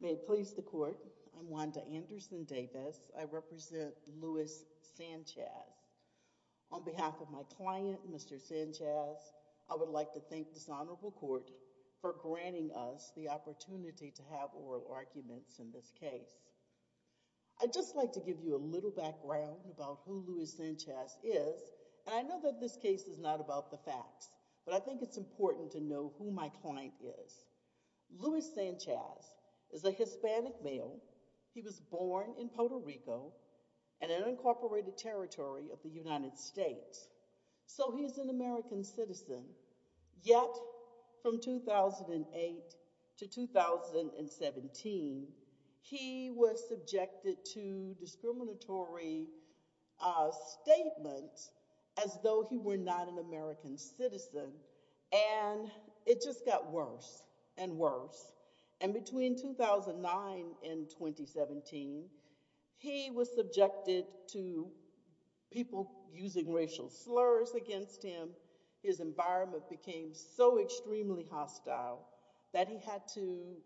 May it please the court, I'm Wanda Anderson Davis. I represent Luis Sanchez. On behalf of my client, Mr. Sanchez, I would like to thank this honorable court for granting us the opportunity to have oral arguments in this case. I'd just like to give you a little background about who Luis Sanchez is, and I know that this case is not about the facts, but I think it's important to know who my client is. Luis Sanchez is a Hispanic male. He was born in Puerto Rico and an unincorporated territory of the United States, so he's an American citizen. Yet from 2008 to 2017, he was subjected to discriminatory statements as though he were not an American citizen, and it just got worse and worse. And between 2009 and 2017, he was subjected to people using racial slurs against him. His environment became so extremely hostile that he had to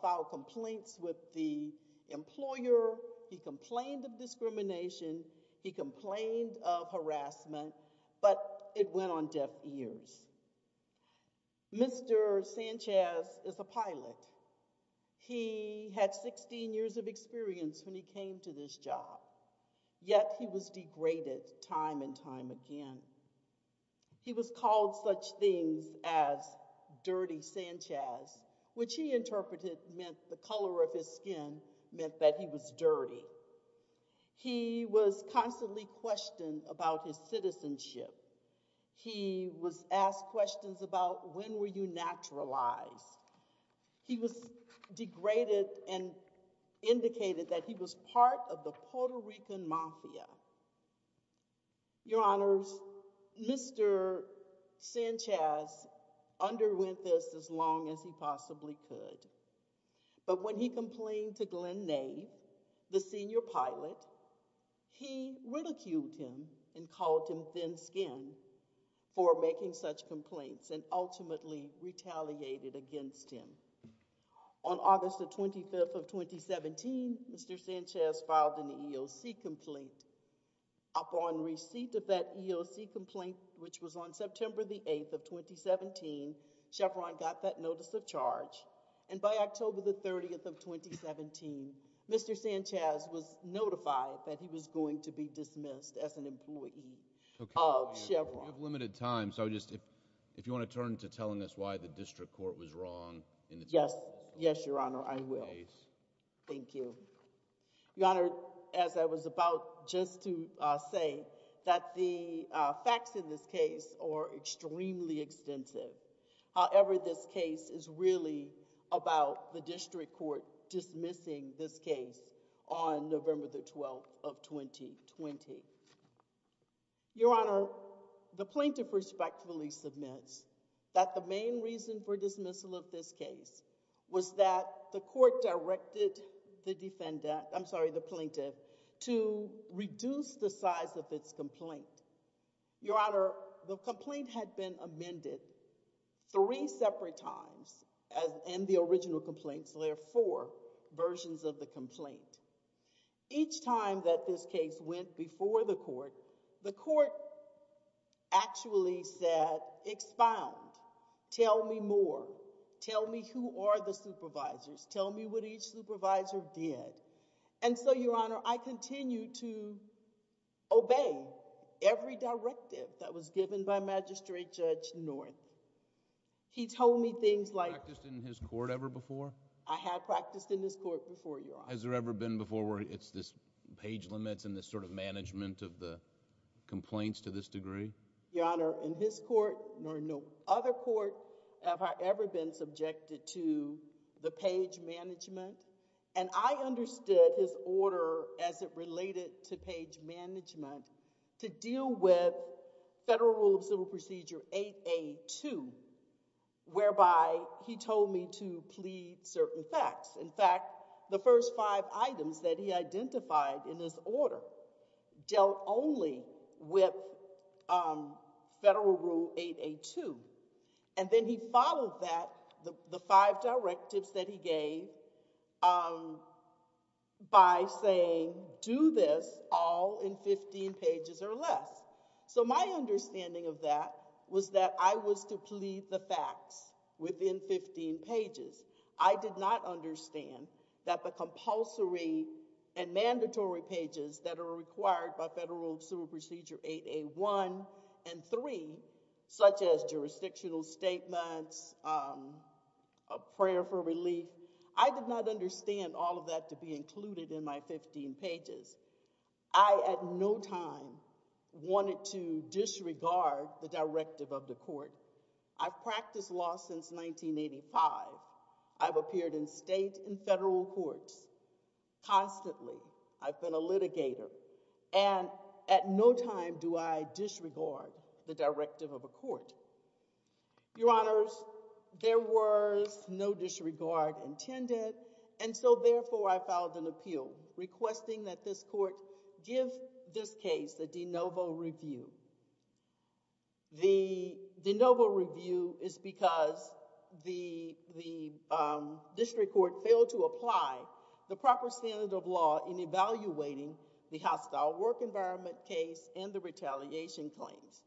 file complaints with the employer. He complained of discrimination. He complained of harassment, but it went on deaf ears. Mr. Sanchez is a pilot. He had 16 years of experience when he came to this job, yet he was degraded time and time again. He was called such things as Dirty Sanchez, which he interpreted meant the color of his skin meant that he was dirty. He was constantly questioned about his citizenship. He was asked questions about when were you naturalized. He was degraded and indicated that he was part of the Puerto Rican mafia. Your Honors, Mr. Sanchez underwent this as long as he possibly could, but when he complained to Glenn Nave, the senior pilot, he ridiculed him and called him thin-skinned for making such complaints and ultimately retaliated against him. On August the 25th of 2017, Mr. Sanchez filed an EOC complaint. Upon receipt of that EOC complaint, which was on September the 8th of 2017, Chevron got that notice of charge and by October the 30th of 2017, Mr. Sanchez was notified that he was going to be dismissed as an employee of Chevron. You have limited time, so just if you want to turn to telling us why the district court was wrong. Yes, yes, Your Honor, I will. Thank you. Your Honor, as I was about just to say, that the facts in this case are extremely extensive. However, this case is really about the district court dismissing this case on November the 12th of 2020. Your Honor, the plaintiff respectfully submits that the main reason for dismissal of this case was that the court directed the defendant, I'm sorry, the plaintiff to reduce the size of its complaint. Your Honor, the complaint had been amended three separate times as in the original complaints. There are four versions of the complaint. Each time that this case went before the court, the court actually said, expound, tell me more, tell me who are the supervisors, tell me what each supervisor did. And so, Your Honor, I continue to obey every directive that was given by Magistrate Judge North. He told me things like... Practiced in his court ever before? I have practiced in this court before, Your Honor. Has there ever been before where it's this page limits and this sort of management of the complaints to this degree? Your Honor, in his court nor no other court have I ever been subjected to the page management. And I understood his order as it related to page management to deal with Federal Rule of Civil Procedure 8A.2, whereby he told me to plead certain facts. In fact, the first five items that he identified in this order dealt only with Federal Rule 8A.2. And then he followed that, the five directives that he gave, by saying, do this all in 15 pages or less. So my understanding of that was that I was to plead the facts within 15 pages. I did not understand that the compulsory and mandatory pages that are required by Federal Rule of Civil Procedure 8A.1 and 3, such as jurisdictional statements, a prayer for relief, I did not understand all of that to be included in my 15 pages. I at no time wanted to disregard the directive of the court. I've practiced law since 1985. I've appeared in state and federal courts constantly. I've been a litigator. And at no time do I disregard the directive of a court. Your Honors, there was no disregard intended. And so, therefore, I filed an appeal requesting that this court give this case a de novo review. The de novo review is because the district court failed to apply the proper standard of law in evaluating the hostile work environment case and the retaliation claims.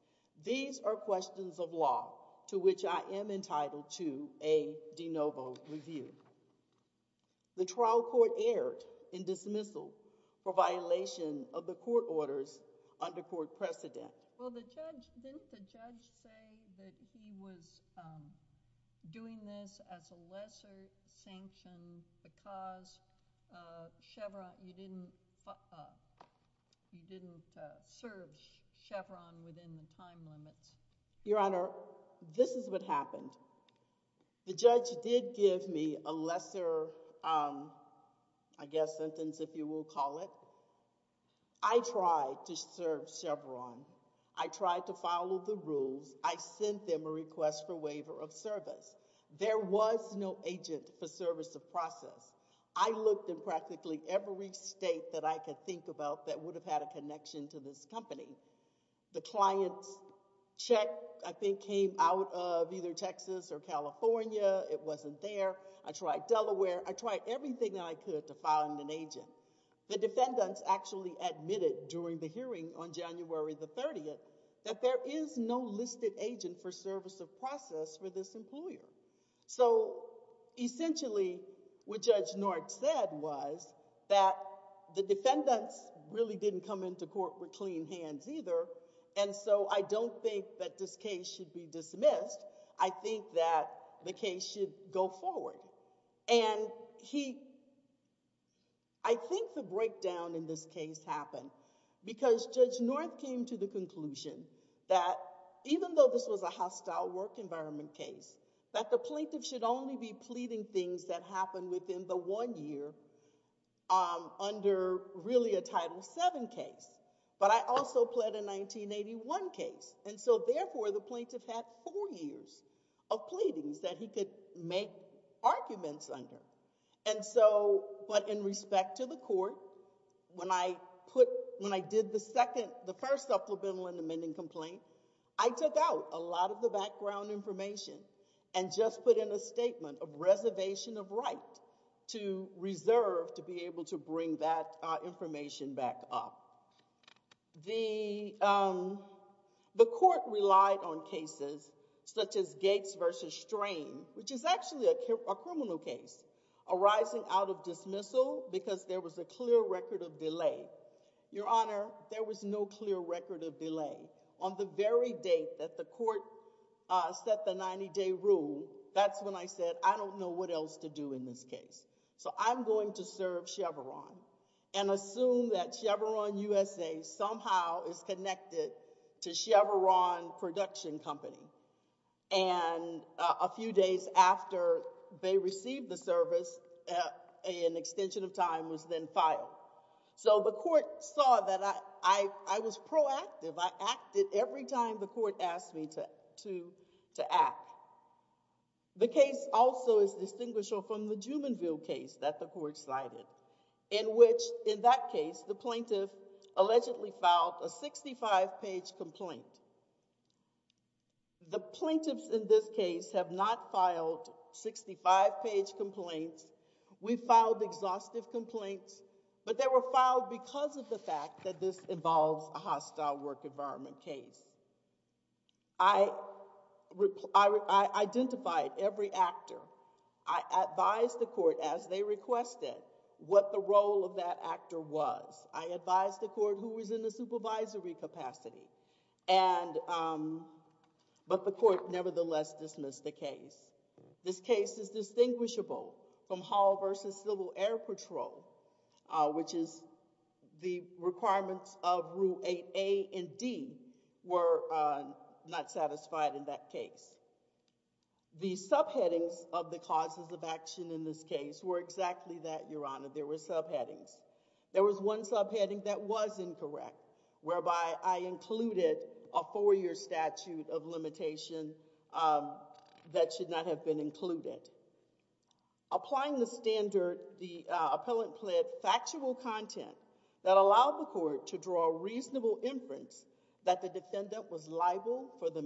These are questions of law to which I am entitled to a de novo review. The trial court erred in dismissal for violation of the court order's undercourt precedent. Well, the judge, didn't the judge say that he was doing this as a lesser sanction because Chevron, you didn't serve Chevron within the time limits? Your Honor, this is what happened. The judge did give me a lesser, I guess, sentence, if you will call it. I tried to serve Chevron. I tried to follow the rules. I sent them a request for waiver of service. There was no agent for service of process. I looked in practically every state that I could think about that would have had a connection to this company. The client's check, I think, came out of either Texas or California. It wasn't there. I tried everything that I could to find an agent. The defendants actually admitted during the hearing on January the 30th that there is no listed agent for service of process for this employer. So essentially, what Judge Nortz said was that the defendants really didn't come into court with clean hands either. And so I don't think that this case should be dismissed. I think that the case should go forward. I think the breakdown in this case happened because Judge Nortz came to the conclusion that even though this was a hostile work environment case, that the plaintiff should only be pleading things that happened within the one year under really a Title VII case. But I also pled a 1981 case. And so therefore, the plaintiff had four years of pleadings that he could make arguments under. And so, but in respect to the court, when I put, when I did the second, the first supplemental and amending complaint, I took out a lot of the background information and just put in a statement of reservation of right to reserve to be able to bring that information back up. The, um, the court relied on cases such as Gates versus Strain, which is actually a criminal case, arising out of dismissal because there was a clear record of delay. Your Honor, there was no clear record of delay. On the very date that the court set the 90-day rule, that's when I said, I don't know what else to do in this case. So I'm going to serve Chevron and assume that Chevron USA somehow is connected to Chevron production company. And a few days after they received the service, an extension of time was then filed. So the court saw that I, I was proactive. I acted every time the court asked me to, to, to act. The case also is distinguishable from the Jumenville case that the court cited, in which, in that case, the plaintiff allegedly filed a 65-page complaint. The plaintiffs in this case have not filed 65-page complaints. We filed exhaustive complaints, but they were filed because of the fact that this involves a hostile work environment case. I, I, I identified every actor. I advised the court as they requested what the role of that actor was. I advised the court who was in the supervisory capacity. And, um, but the court nevertheless dismissed the case. This case is distinguishable from Hall v. Civil Air Patrol, uh, which is the requirements of Rule 8A and D were, uh, not satisfied in that case. The subheadings of the causes of action in this case were exactly that, Your Honor. There were subheadings. There was one subheading that was incorrect, whereby I included a four-year statute of limitation, um, that should not have been included. Applying the standard, the, uh, appellant pled factual content that allowed the court to draw a reasonable inference that the defendant was liable for the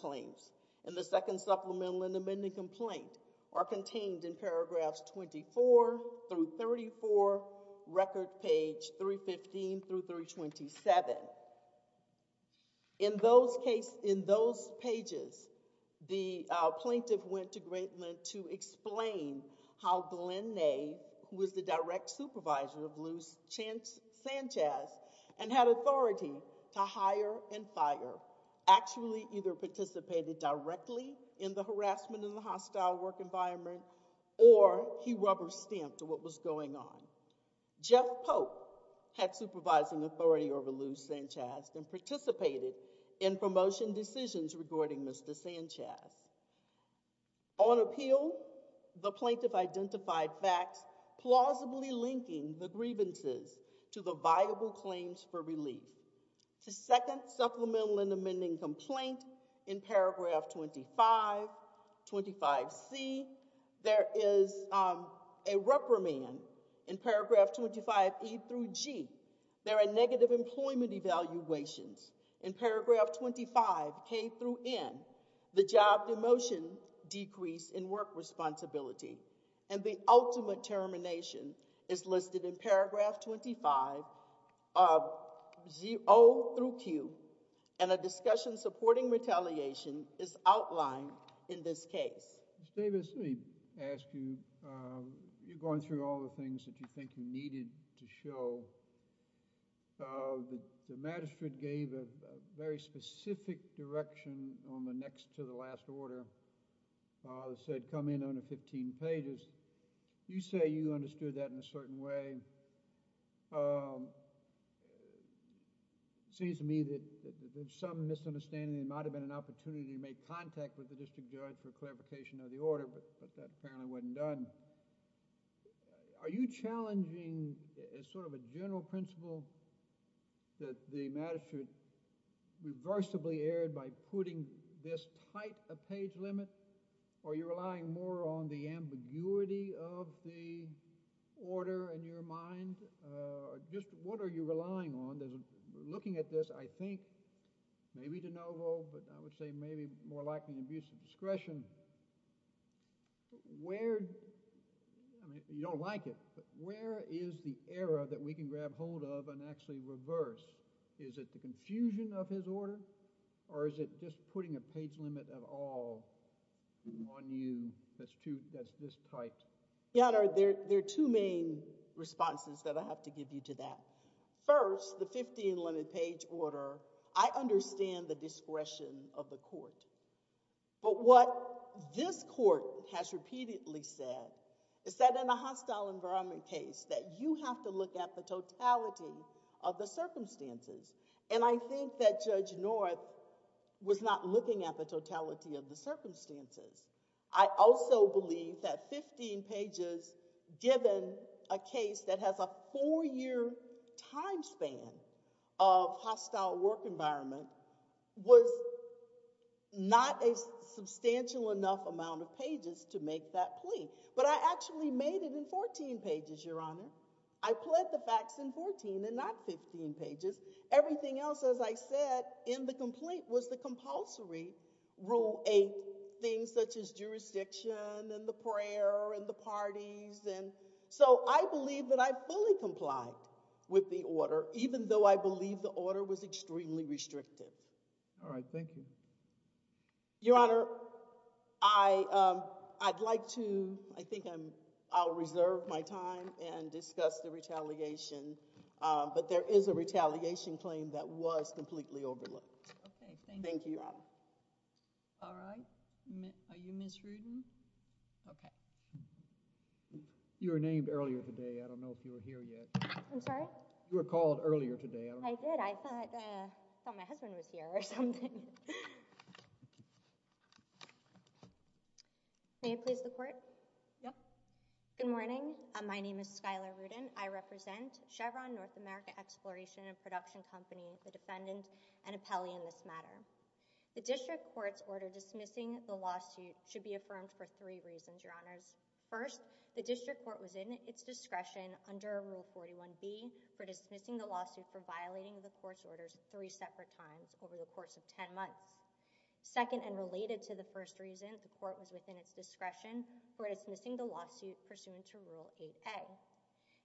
claims. And the second supplemental and amending complaint are contained in paragraphs 24 through 34, record page 315 through 327. In those cases, in those pages, the plaintiff went to Greatland to explain how Glenn Nade, who was the direct supervisor of Luz Sanchez and had authority to hire and participated directly in the harassment in the hostile work environment, or he rubber stamped what was going on. Jeff Pope had supervising authority over Luz Sanchez and participated in promotion decisions regarding Mr. Sanchez. On appeal, the plaintiff identified facts plausibly linking the grievances to the viable claims for relief. The second supplemental and amending complaint in paragraph 25, 25 C, there is a reprimand in paragraph 25 E through G. There are negative employment evaluations in paragraph 25 K through N. The job demotion decrease in work responsibility and the ultimate supporting retaliation is outlined in this case. Davis, let me ask you, you're going through all the things that you think you needed to show. The magistrate gave a very specific direction on the next to the last order, said come in under 15 pages. You say you understood that in my understanding, it might have been an opportunity to make contact with the district judge for clarification of the order, but that apparently wasn't done. Are you challenging, as sort of a general principle, that the magistrate reversibly erred by putting this tight a page limit, or are you relying more on the ambiguity of the order in your mind? Just what are you relying on? Looking at this, I think maybe de novo, but I would say maybe more like an abuse of discretion. Where, I mean, you don't like it, but where is the error that we can grab hold of and actually reverse? Is it the confusion of his order, or is it just putting a page limit at all on you that's too, that's this tight? Your Honor, there are two main responses that I have to give you to that. First, the 15 limit page order, I understand the discretion of the court, but what this court has repeatedly said is that in a hostile environment case that you have to look at the totality of the circumstances, and I think that Judge North was not looking at the totality of the circumstances. I also believe that the time span of hostile work environment was not a substantial enough amount of pages to make that plea, but I actually made it in 14 pages, Your Honor. I pled the facts in 14 and not 15 pages. Everything else, as I said, in the complaint was the compulsory Rule 8, things such as jurisdiction and the order, even though I believe the order was extremely restrictive. All right, thank you. Your Honor, I'd like to, I think I'll reserve my time and discuss the retaliation, but there is a retaliation claim that was completely overlooked. Okay, thank you. Thank you, Your Honor. All right, are you Ms. Rudin? Okay. You were named earlier today, I don't know if you were here yet. I'm sorry? You were called earlier today, I don't know. I did, I thought my husband was here or something. Thank you. May I please the Court? Yeah. Good morning, my name is Skylar Rudin. I represent Chevron North America Exploration and Production Company, the defendant, and appellee in this matter. The District Court's order dismissing the lawsuit should be affirmed for three reasons, Your Honors. First, the District Court was in its discretion under Rule 41B for dismissing the lawsuit for violating the Court's orders three separate times over the course of ten months. Second, and related to the first reason, the Court was within its discretion for dismissing the lawsuit pursuant to Rule 8A.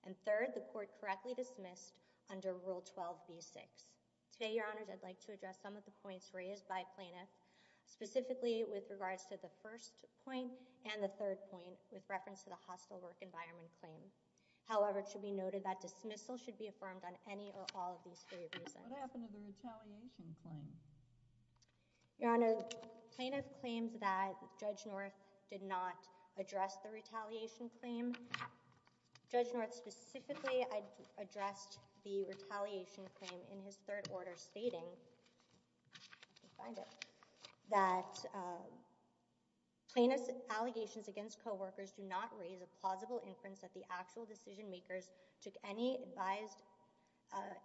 And third, the Court correctly dismissed under Rule 12B6. Today, Your Honors, I'd like to address some of the points raised by plaintiffs, specifically with regards to the first point and the third point with reference to the hostile work environment claim. However, it should be noted that dismissal should be affirmed on any or all of these three reasons. What happened to the retaliation claim? Your Honor, plaintiff claimed that Judge North did not address the retaliation claim. Judge North specifically addressed the retaliation claim in his third order stating that plaintiff's actions against co-workers do not raise a plausible inference that the actual decision makers took any advised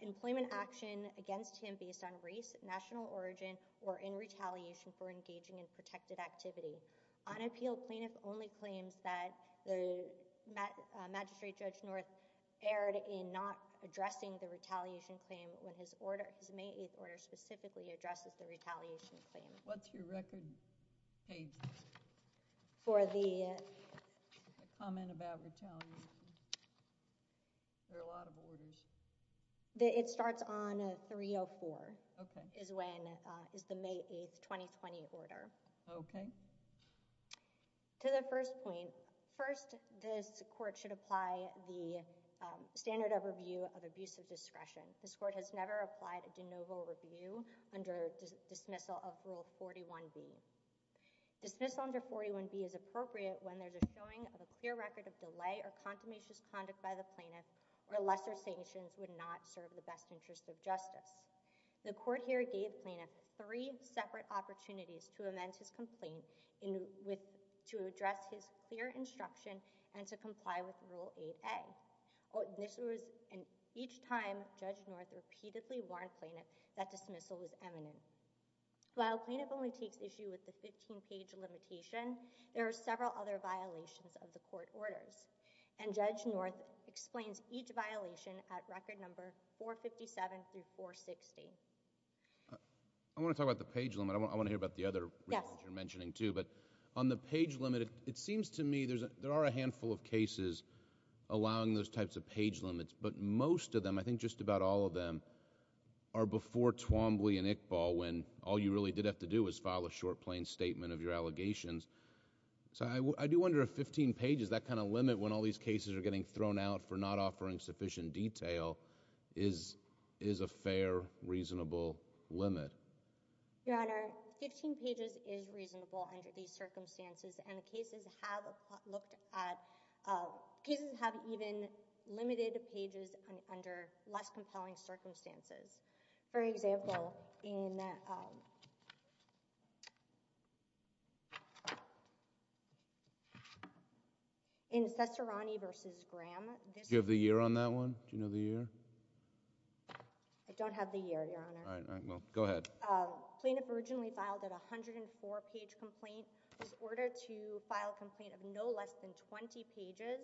employment action against him based on race, national origin, or in retaliation for engaging in protected activity. Unappealed, plaintiff only claims that the Magistrate Judge North erred in not addressing the retaliation claim when his May 8th order specifically addresses the retaliation claim. What's your record page for the comment about retaliation? There are a lot of orders. It starts on 304 is the May 8th 2020 order. Okay. To the first point, first this court should apply the standard of review of abusive discretion. This court has never applied a de novo review under the dismissal of Rule 41B. Dismissal under 41B is appropriate when there's a showing of a clear record of delay or condamnation conduct by the plaintiff or lesser sanctions would not serve the best interest of justice. The court here gave plaintiff three separate opportunities to amend his complaint to address his clear instruction and to comply with Rule 8A. Each time Judge North repeatedly warned plaintiff that dismissal was eminent. While plaintiff only takes issue with the 15 page limitation, there are several other violations of the court orders and Judge North explains each violation at record number 457 through 460. I want to talk about the page limit. I want to hear about the other you're mentioning too, but on the page limit, it seems to me there are a handful of cases allowing those types of page limits, but most of them, I think just about all of them, are before Twombly and Iqbal when all you really did have to do was file a short plain statement of your allegations. So I do wonder if 15 pages, that kind of limit when all these cases are getting thrown out for not offering sufficient detail, is a fair, reasonable limit. Your Honor, 15 pages is reasonable under these circumstances and cases have looked at cases have even limited pages under less compelling circumstances. For example, in Sessarani v. Graham, Do you have the year on that one? Do you know the year? I don't have the year, Your Honor. Go ahead. Plaintiff originally filed a 104 page complaint. It was ordered to file a complaint of no less than 20 pages.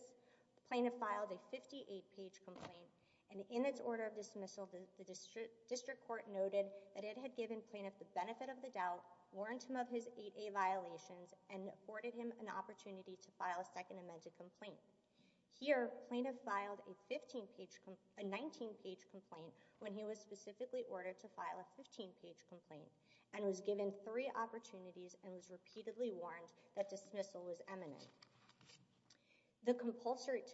Plaintiff filed a 58 page complaint. In its order of dismissal, the District Court noted that it had given Plaintiff the benefit of the doubt, warned him of his 8A violations, and afforded him an opportunity to file a second amended complaint. Here, Plaintiff filed a 19 page complaint when he was specifically ordered to file a 15 page complaint and was given three opportunities and was repeatedly warned that dismissal was imminent. To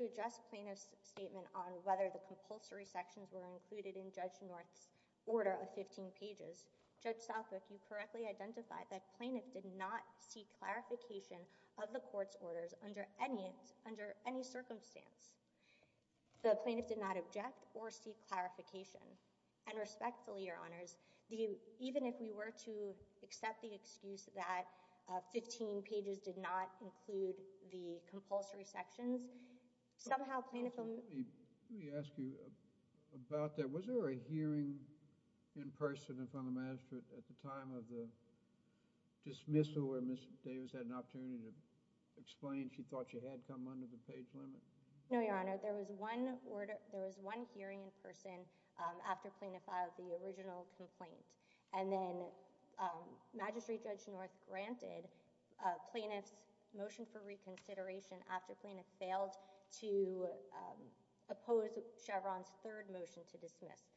address Plaintiff's statement on whether the compulsory sections were included in Judge North's order of 15 pages, Judge Southwick, you correctly identified that Plaintiff did not seek clarification of the Court's orders under any circumstance. The Plaintiff did not object or seek clarification. And respectfully, Your Honors, even if we were to accept the excuse that 15 pages did not include the compulsory sections, somehow Plaintiff... Let me ask you about that. Was there a hearing in person in front of Magistrate at the time of the dismissal where Ms. Davis had an opportunity to explain she thought she had come under the page limit? No, Your Honor. There was one hearing in person after Plaintiff filed the original complaint. And then Magistrate Judge North granted Plaintiff's motion for reconsideration after Plaintiff failed to oppose Chevron's third motion to dismiss.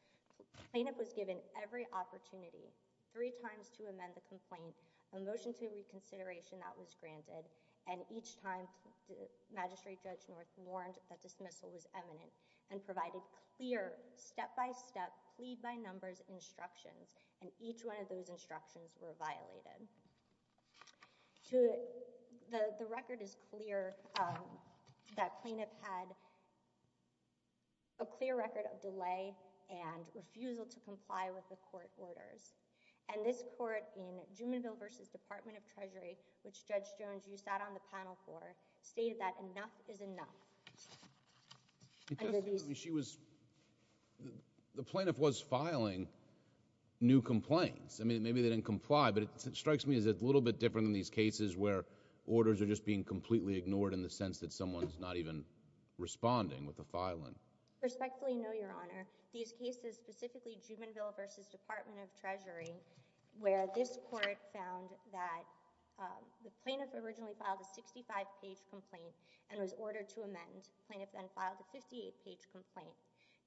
Plaintiff was given every opportunity, three times to amend the complaint, a motion to reconsideration that was granted and each time Magistrate Judge North warned that dismissal was imminent and provided clear, step-by-step, plead-by-numbers instructions and each one of those instructions were violated. The record is clear that Plaintiff had a clear record of delay and refusal to comply with the court orders. And this court in Jumonville v. Department of Treasury, which Judge Jones, you sat on the panel for, stated that enough is enough. She was... The Plaintiff was filing new complaints. I mean, maybe they didn't comply but it strikes me as a little bit different than these cases where orders are just being completely ignored in the sense that someone's not even responding with the filing. Respectfully, no, Your Honor. These cases, specifically Jumonville v. Department of Treasury, where this court found that the Plaintiff originally filed a 65-page complaint and was ordered to amend. Plaintiff then filed a 58-page complaint.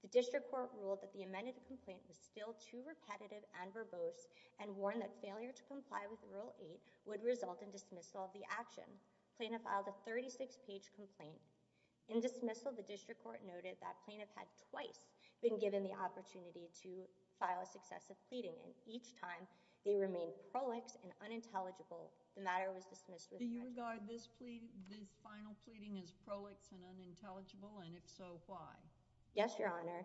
The District Court ruled that the amended complaint was still too repetitive and verbose and warned that failure to comply with Rule 8 would result in dismissal of the action. Plaintiff filed a 36-page complaint. In dismissal, the District Court noted that Plaintiff had twice been given the opportunity to file a successive pleading and each time they remained prolix and unintelligible. The matter was dismissed with... Do you regard this final pleading as prolix and unintelligible and if so, why? Yes, Your Honor.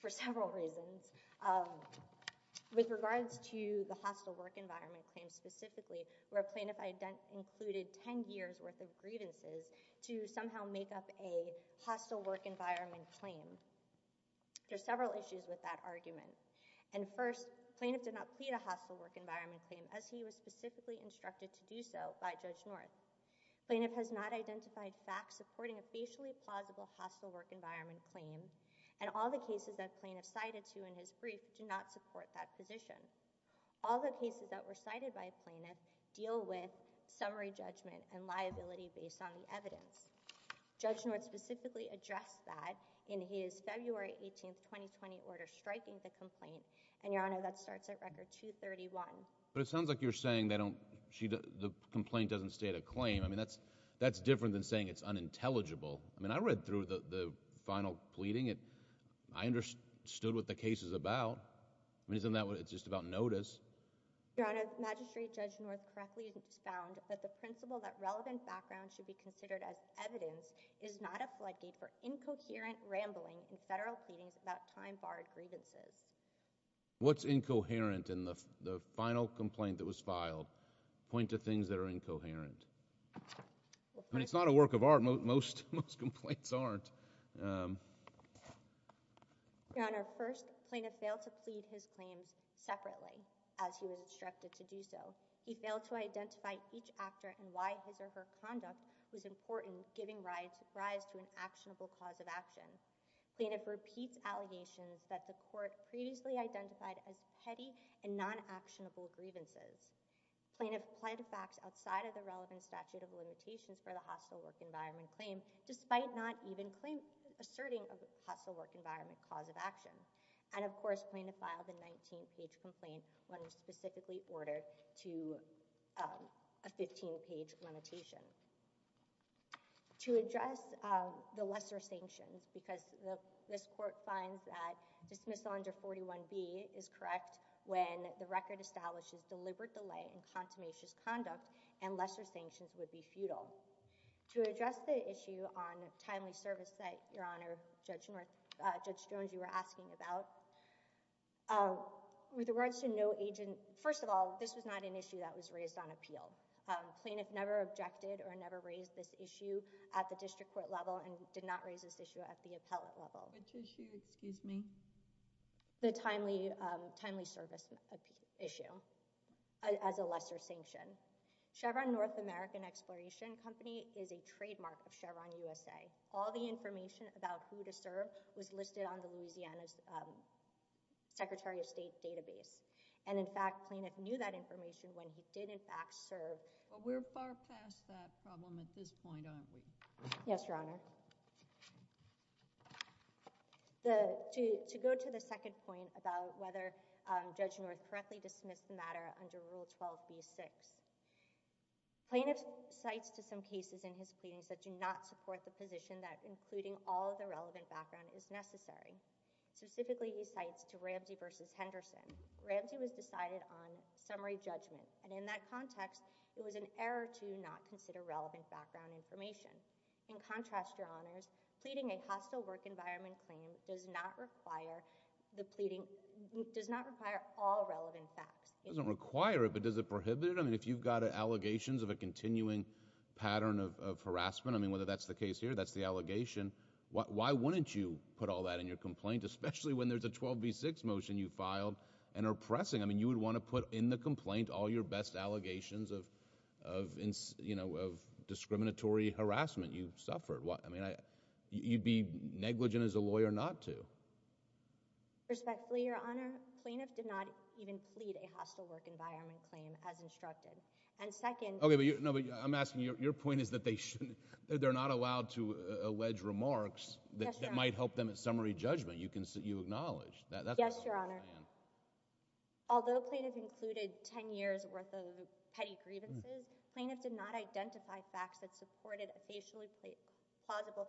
For several reasons. With regards to the hostile work environment claim specifically where Plaintiff included 10 years worth of grievances to somehow make up a hostile work environment claim. There's several issues with that argument. And first, Plaintiff did not plead a hostile work environment claim as he was specifically instructed to do so by Judge North. Plaintiff has not identified facts supporting a facially plausible hostile work environment claim and all the cases that Plaintiff cited to in his brief do not support that position. All the cases that were cited by Plaintiff deal with summary judgment and liability based on the evidence. Judge North specifically addressed that in his February 18, 2020 order striking the complaint and Your Honor, that starts at record 231. But it sounds like you're saying the complaint doesn't state a claim. I mean, that's different than saying it's unintelligible. I mean, I read through the final pleading. I understood what the case is about. It's just about notice. Your Honor, Magistrate Judge North correctly found that the principle that relevant background should be considered as evidence is not a floodgate for incoherent rambling in federal pleadings about time-barred grievances. What's incoherent in the final complaint that was incoherent? I mean, it's not a work of art. Most complaints aren't. Your Honor, first, Plaintiff failed to plead his claims separately as he was instructed to do so. He failed to identify each actor and why his or her conduct was important giving rise to an actionable cause of action. Plaintiff repeats allegations that the court previously identified as petty and non-actionable grievances. Plaintiff applied the facts outside of the relevant statute of limitations for the hostile work environment claim despite not even asserting a hostile work environment cause of action. And of course, Plaintiff filed a 19-page complaint when specifically ordered to a 15-page limitation. To address the lesser sanctions because this court finds that dismissal under 41B is correct when the record establishes deliberate delay in consummation's conduct and lesser sanctions would be futile. To address the issue on timely service that, Your Honor, Judge Jones, you were asking about, with regards to no agent, first of all, this was not an issue that was raised on appeal. Plaintiff never objected or never raised this issue at the district court level and did not raise this issue at the appellate level. Which issue, excuse me? The timely service issue as a lesser sanction. Chevron North American Exploration Company is a trademark of Chevron USA. All the information about who to serve was listed on the Louisiana's Secretary of State database. And in fact, Plaintiff knew that information when he did, in fact, serve. But we're far past that problem at this point, aren't we? Yes, Your Honor. To go to the second point about whether Judge North correctly dismissed the matter under Rule 12b-6. Plaintiff cites to some cases in his pleadings that do not support the position that including all the relevant background is necessary. Specifically, he cites to Ramsey v. Henderson. Ramsey was decided on summary judgment. And in that context, it was an error to not consider relevant background information. In contrast, Your Honors, pleading a hostile work environment claim does not require all relevant facts. It doesn't require it, but does it prohibit it? I mean, if you've got allegations of a continuing pattern of harassment, I mean, whether that's the case here, that's the allegation, why wouldn't you put all that in your complaint, especially when there's a 12b-6 motion you filed and are pressing? I mean, you would want to put in the complaint all your best allegations of discriminatory harassment you suffered. I mean, you'd be negligent as a lawyer not to. Respectfully, Your Honor, plaintiff did not even plead a hostile work environment claim as instructed. And second— Okay, but I'm asking, your point is that they're not allowed to allege remarks that might help them at summary judgment. You acknowledge that. Yes, Your Honor. Although plaintiff included 10 years worth of petty facts that supported a facially plausible—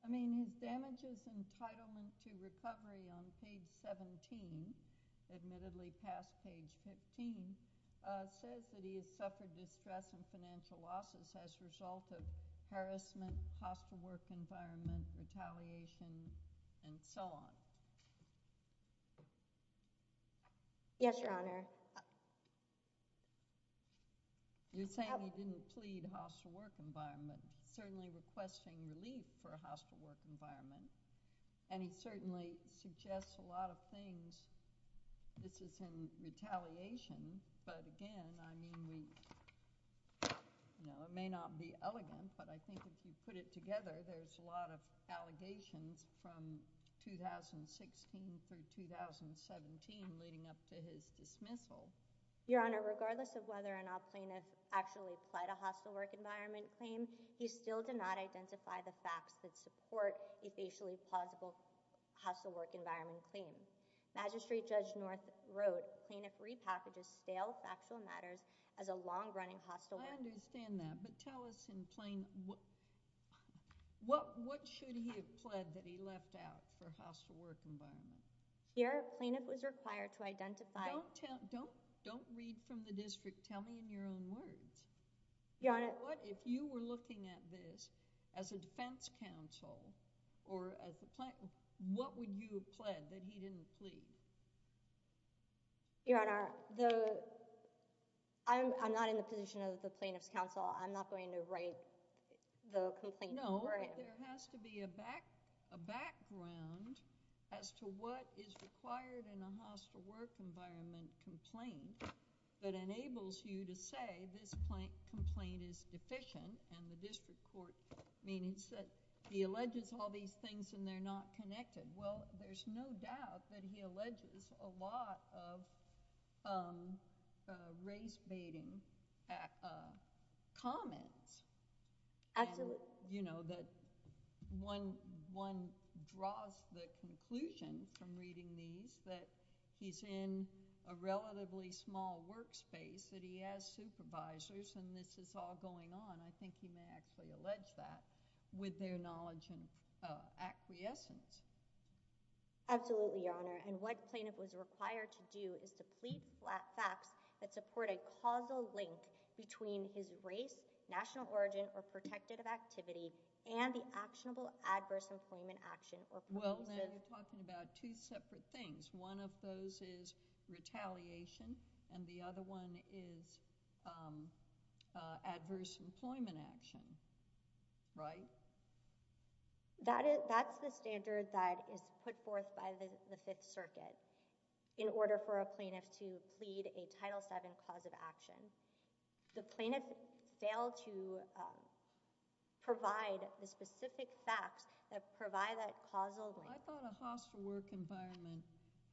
I mean, his damages entitlement to recovery on page 17, admittedly past page 15, says that he has suffered distress and financial losses as a result of harassment, hostile work environment, retaliation, and so on. Yes, Your Honor. You're saying he didn't plead hostile work environment, certainly requesting relief for a hostile work environment, and he certainly suggests a lot of things. This is in retaliation, but again, I mean, we— it may not be elegant, but I think if you put it together, there's a lot of allegations from 2016 through 2017 leading up to his dismissal. Your Honor, regardless of whether or not plaintiff actually pled a hostile work environment claim, he still did not identify the facts that support a facially plausible hostile work environment claim. Magistrate Judge North wrote, plaintiff repackages stale factual matters as a long-running hostile work— I understand that, but tell us in plain— what should he have pled that he left out for hostile work environment? Your Honor, plaintiff was required to identify— Don't tell—don't read from the district. Tell me in your own words. Your Honor— If you were looking at this as a defense counsel or as a plaintiff, what would you have pled that he didn't plead? Your Honor, the— I'm not in the position of the plaintiff's counsel. I'm not going to write the complaint for him. No, there has to be a back—a what is required in a hostile work environment complaint that enables you to say this complaint is deficient and the district court means that he alleges all these things and they're not connected. Well, there's no doubt that he alleges a lot of race-baiting comments. Absolutely. You know, that one draws the conclusion from reading these that he's in a relatively small workspace that he has supervisors and this is all going on. I think he may actually allege that with their knowledge and acquiescence. Absolutely, Your Honor, and what plaintiff was required to do is to plead facts that support a causal link between his race, national origin, or protective activity, and the actionable adverse employment action. Well, now you're talking about two separate things. One of those is retaliation and the other one is adverse employment action, right? That's the standard that is put forth by the Fifth Circuit in order for a plaintiff to plead a Title VII cause of action. The plaintiff failed to provide the specific facts that provide that causal link. I thought a hostile work environment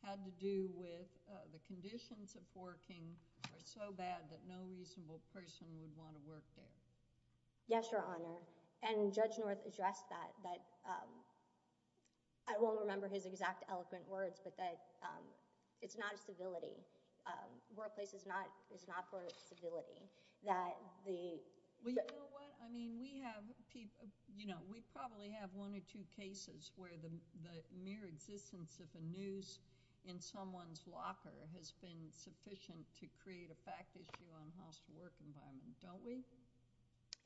had to do with the conditions of working are so bad that no reasonable person would want to work there. Yes, Your Honor, and Judge North addressed that, that I won't remember his exact eloquent words, but that it's not a civility. Workplace is not for civility. Well, you know what? I mean, we have, you know, we probably have one or two cases where the mere existence of a noose in someone's locker has been sufficient to create a fact issue on hostile work environment, don't we?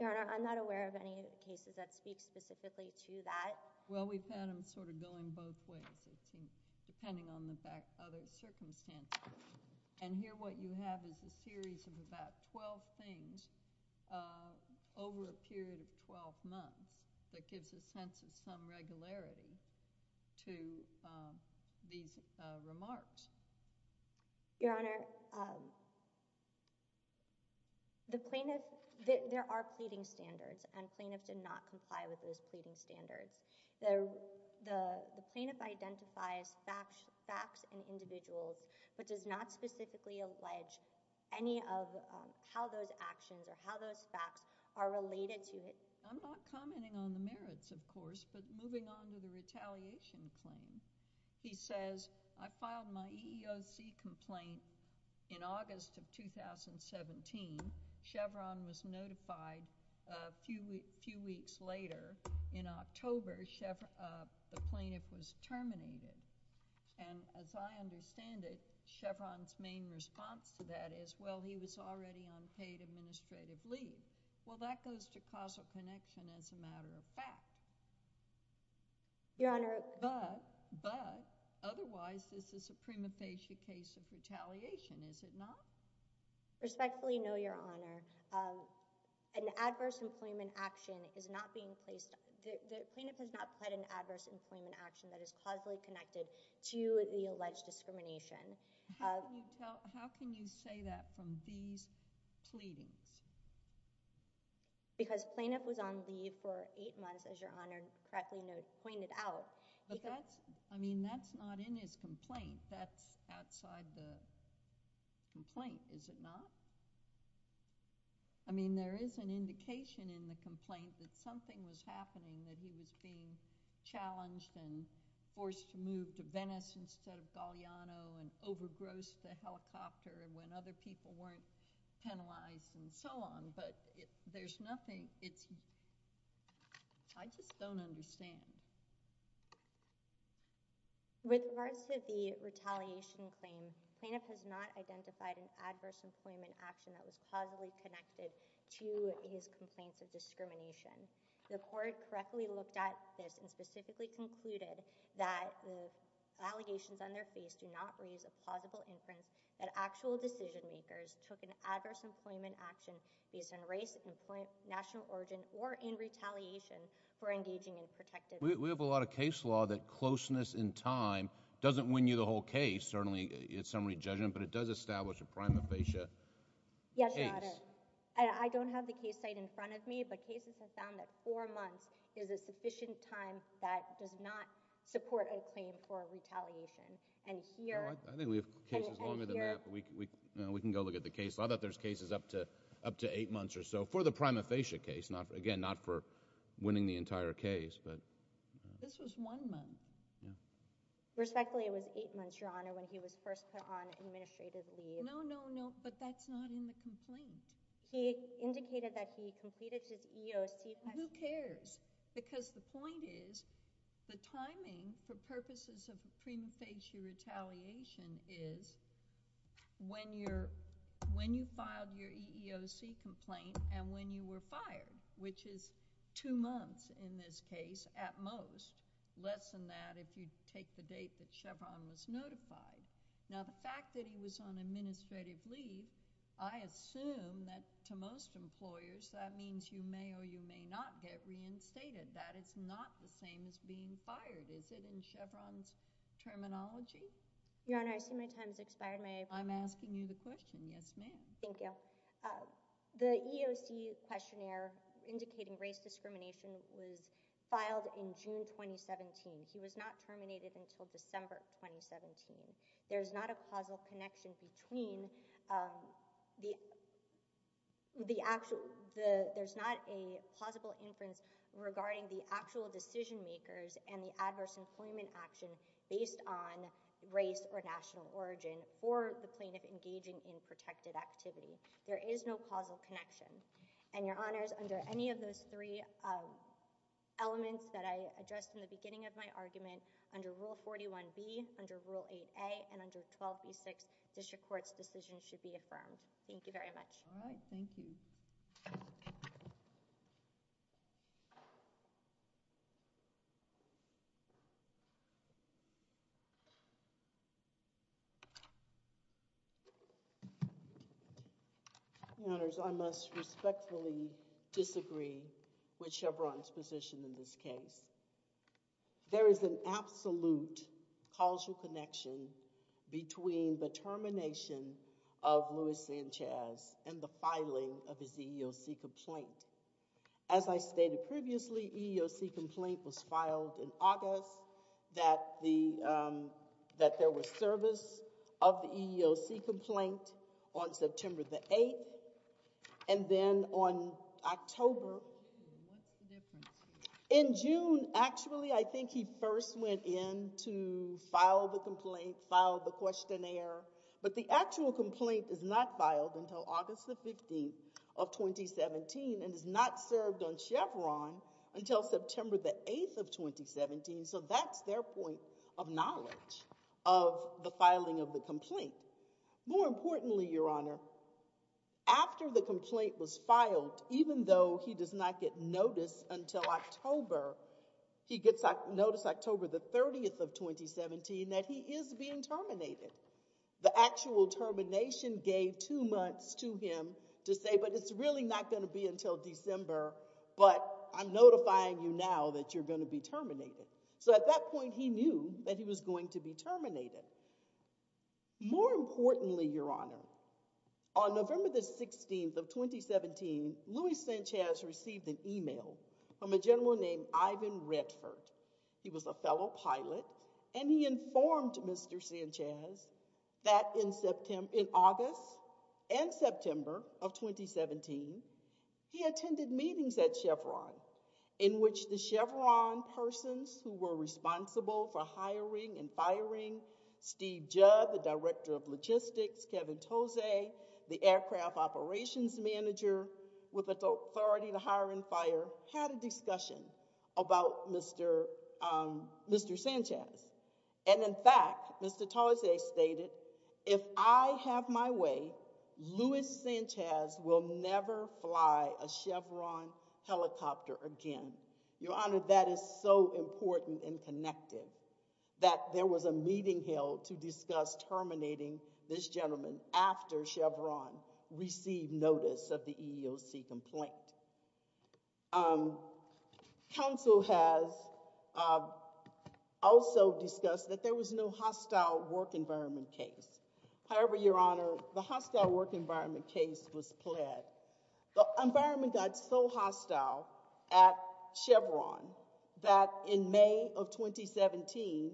Your Honor, I'm not aware of any cases that speak specifically to that. Well, we've had them sort of going both ways, it seems, depending on the other circumstances. And here what you have is a series of about 12 things over a period of 12 months that gives a sense of some regularity to these remarks. Your Honor, the plaintiff, there are pleading standards, and plaintiffs did not comply with those pleading standards. The plaintiff identifies facts and individuals, but does not specifically allege any of how those actions or how those facts are related to it. I'm not commenting on the merits, of course, but moving on to the retaliation claim. He says, I filed my EEOC complaint in August of 2017. Chevron was notified a few weeks later. In October, the plaintiff was terminated. And as I understand it, Chevron's main response to that is, well, he was already on paid administrative leave. Well, that goes to causal connection as a matter of fact. Your Honor— But, otherwise, this is a prima facie case of retaliation, is it not? Respectfully, no, Your Honor. An adverse employment action is not being placed—the plaintiff has not pled an adverse employment action that is causally connected to the alleged discrimination. How can you say that from these pleadings? Because the plaintiff was on leave for eight months, as Your Honor correctly pointed out. I mean, that's not in his complaint. That's outside the complaint, is it not? I mean, there is an indication in the complaint that something was happening, that he was being challenged and forced to move to Venice instead of Galeano and overgrossed the helicopter when other people weren't penalized and so on, but there's nothing— it's— I just don't understand. With regards to the retaliation claim, the plaintiff has not identified an adverse employment action that was causally connected to his complaints of discrimination. The court correctly looked at this and specifically concluded that the allegations on their face do not raise a plausible inference that actual decision-makers took an adverse employment action based on race, national origin, or in retaliation for engaging in protective— We have a lot of case law that closeness in time doesn't win you the whole case. Certainly, it's summary judgment, but it does establish a prima facie case. Yes, Your Honor. I don't have the case site in front of me, but cases have found that four months is a sufficient time that does not support a claim for retaliation. And here— I think we have cases longer than that, but we can go look at the case. I thought there's cases up to eight months or so for the prima facie case, again, not for winning the entire case, but— This was one month. Respectfully, it was eight months, Your Honor, when he was first put on administrative leave. No, no, no, but that's not in the data that he completed, just EEOC— Who cares? Because the point is the timing for purposes of prima facie retaliation is when you're— when you filed your EEOC complaint and when you were fired, which is two months in this case at most, less than that if you take the date that Chevron was notified. Now, the fact that he was on administrative leave, I assume that to most employers, that means you may or you may not get reinstated. That is not the same as being fired, is it, in Chevron's terminology? Your Honor, I assume my time has expired. I'm asking you the question. Yes, ma'am. Thank you. The EEOC questionnaire indicating race discrimination was filed in June 2017. He was not terminated until December 2017. There's not a causal connection between the actual— there's not a plausible inference regarding the actual decision makers and the adverse employment action based on race or national origin or the plaintiff engaging in protected activity. There is no causal connection. And, Your Honors, under any of those three elements that I addressed in the beginning of my argument, under Rule 41B, under Rule 8A, and under 12B.6, district courts' decisions should be affirmed. Thank you very much. All right. Thank you. Your Honors, I must respectfully disagree with Chevron's position in this case. There is an absolute causal connection between the termination of Luis Sanchez and the filing of his EEOC complaint. As I stated previously, EEOC complaint was filed in August, that there was service of the EEOC complaint on September the 8th, and then on October— What's the difference? In June, actually, I think he first went in to file the complaint, file the questionnaire, but the actual complaint is not filed until August the 15th of 2017 and is not served on Chevron until September the 8th of 2017, so that's their point of knowledge of the filing of the complaint. More importantly, Your Honor, after the complaint was filed, even though he does not get notice until October, he gets notice October the 30th of 2017 that he is being terminated. The actual termination gave two months to him to say, but it's really not going to be until December, but I'm notifying you now that you're going to be terminated. So at that point, he knew that he was going to be terminated. More importantly, Your Honor, on November the 16th of 2017, Luis Sanchez received an email from a general named Ivan Redford. He was a fellow pilot and he informed Mr. Sanchez that in August and September of 2017, he attended meetings at Chevron in which the Chevron persons who were responsible for hiring and firing, Steve Judd, the Director of Logistics, Kevin Tose, the Aircraft Operations Manager with authority to hire and fire, had a discussion about Mr. Sanchez. In fact, Mr. Tose stated if I have my way, Luis Sanchez will never fly a Chevron helicopter again. Your Honor, that is so important and connected that there was a meeting held to discuss terminating this gentleman after Chevron received notice of the EEOC complaint. Council has also discussed that there was no hostile work environment case. However, Your Honor, the hostile work environment case was pled. The environment got so hostile at Chevron that in May of 2017,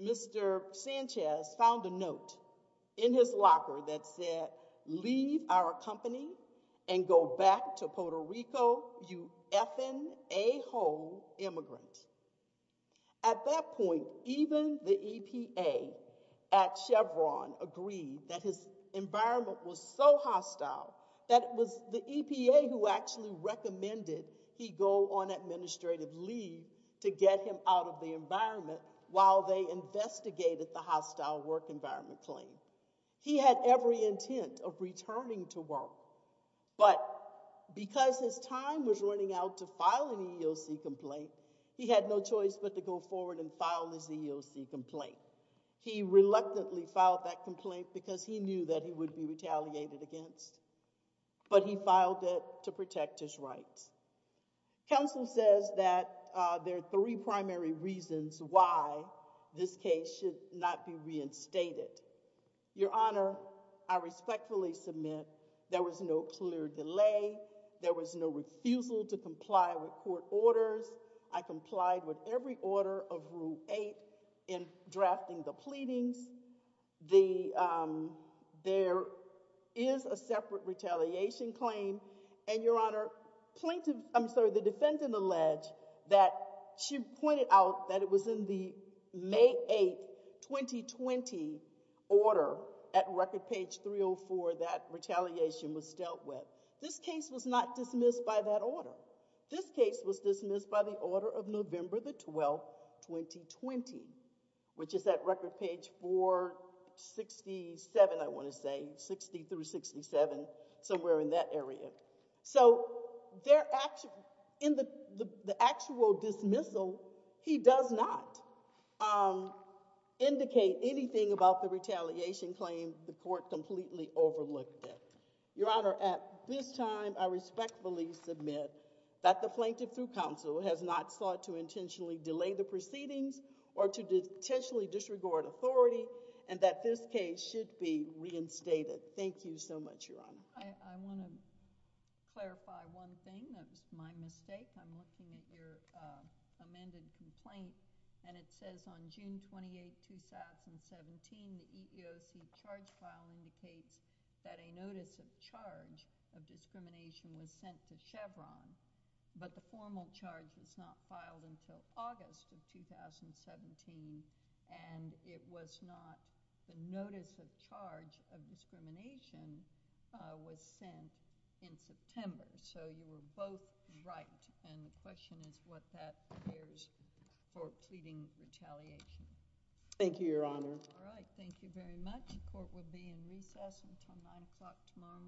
Mr. Sanchez found a note in his locker that said, leave our company and go back to Puerto Rico, you effing a-hole immigrant. At that point, even the EPA at Chevron agreed that his environment was so hostile that it was the EPA who actually recommended he go on administrative leave to get him out of the environment while they investigated the hostile work environment claim. He had every intent of returning to work, but because his time was running out to file an EEOC complaint, he had no choice but to go forward and file his EEOC complaint. He reluctantly filed that complaint because he knew that he would be retaliated against, but he filed it to protect his rights. Council says that there are three primary reasons why this case should not be reinstated. Your Honor, I respectfully submit there was no clear delay, there was no refusal to comply with court orders. I complied with every order of Rule 8 in drafting the pleadings. There is a separate retaliation claim and, Your Honor, the defendant alleged that she pointed out that it was in the May 8, 2020 order at record page 304 that retaliation was dealt with. This case was not dismissed by that order. This case was dismissed by the order of November 12, 2020, which is at record page 467, I want to say, 60-67, somewhere in that area. So, in the actual dismissal, he does not indicate anything about the retaliation claim the court completely overlooked it. Your Honor, at this time, I respectfully submit that the Plaintiff Through Counsel has not sought to intentionally delay the proceedings authority and that this case should be reinstated. Thank you so much, Your Honor. I want to clarify one thing. That was my mistake. I'm looking at your amended complaint, and it says on June 28, 2017, the EEOC charge file indicates that a notice of charge of discrimination was sent to Chevron, but the formal charge was not filed until August of 2017, and it was not the notice of charge of discrimination was sent in September. So, you were both right, and the question is what that appears for pleading retaliation. Thank you, Your Honor. All right. Thank you very much. The court will be in recess until 9 o'clock tomorrow morning.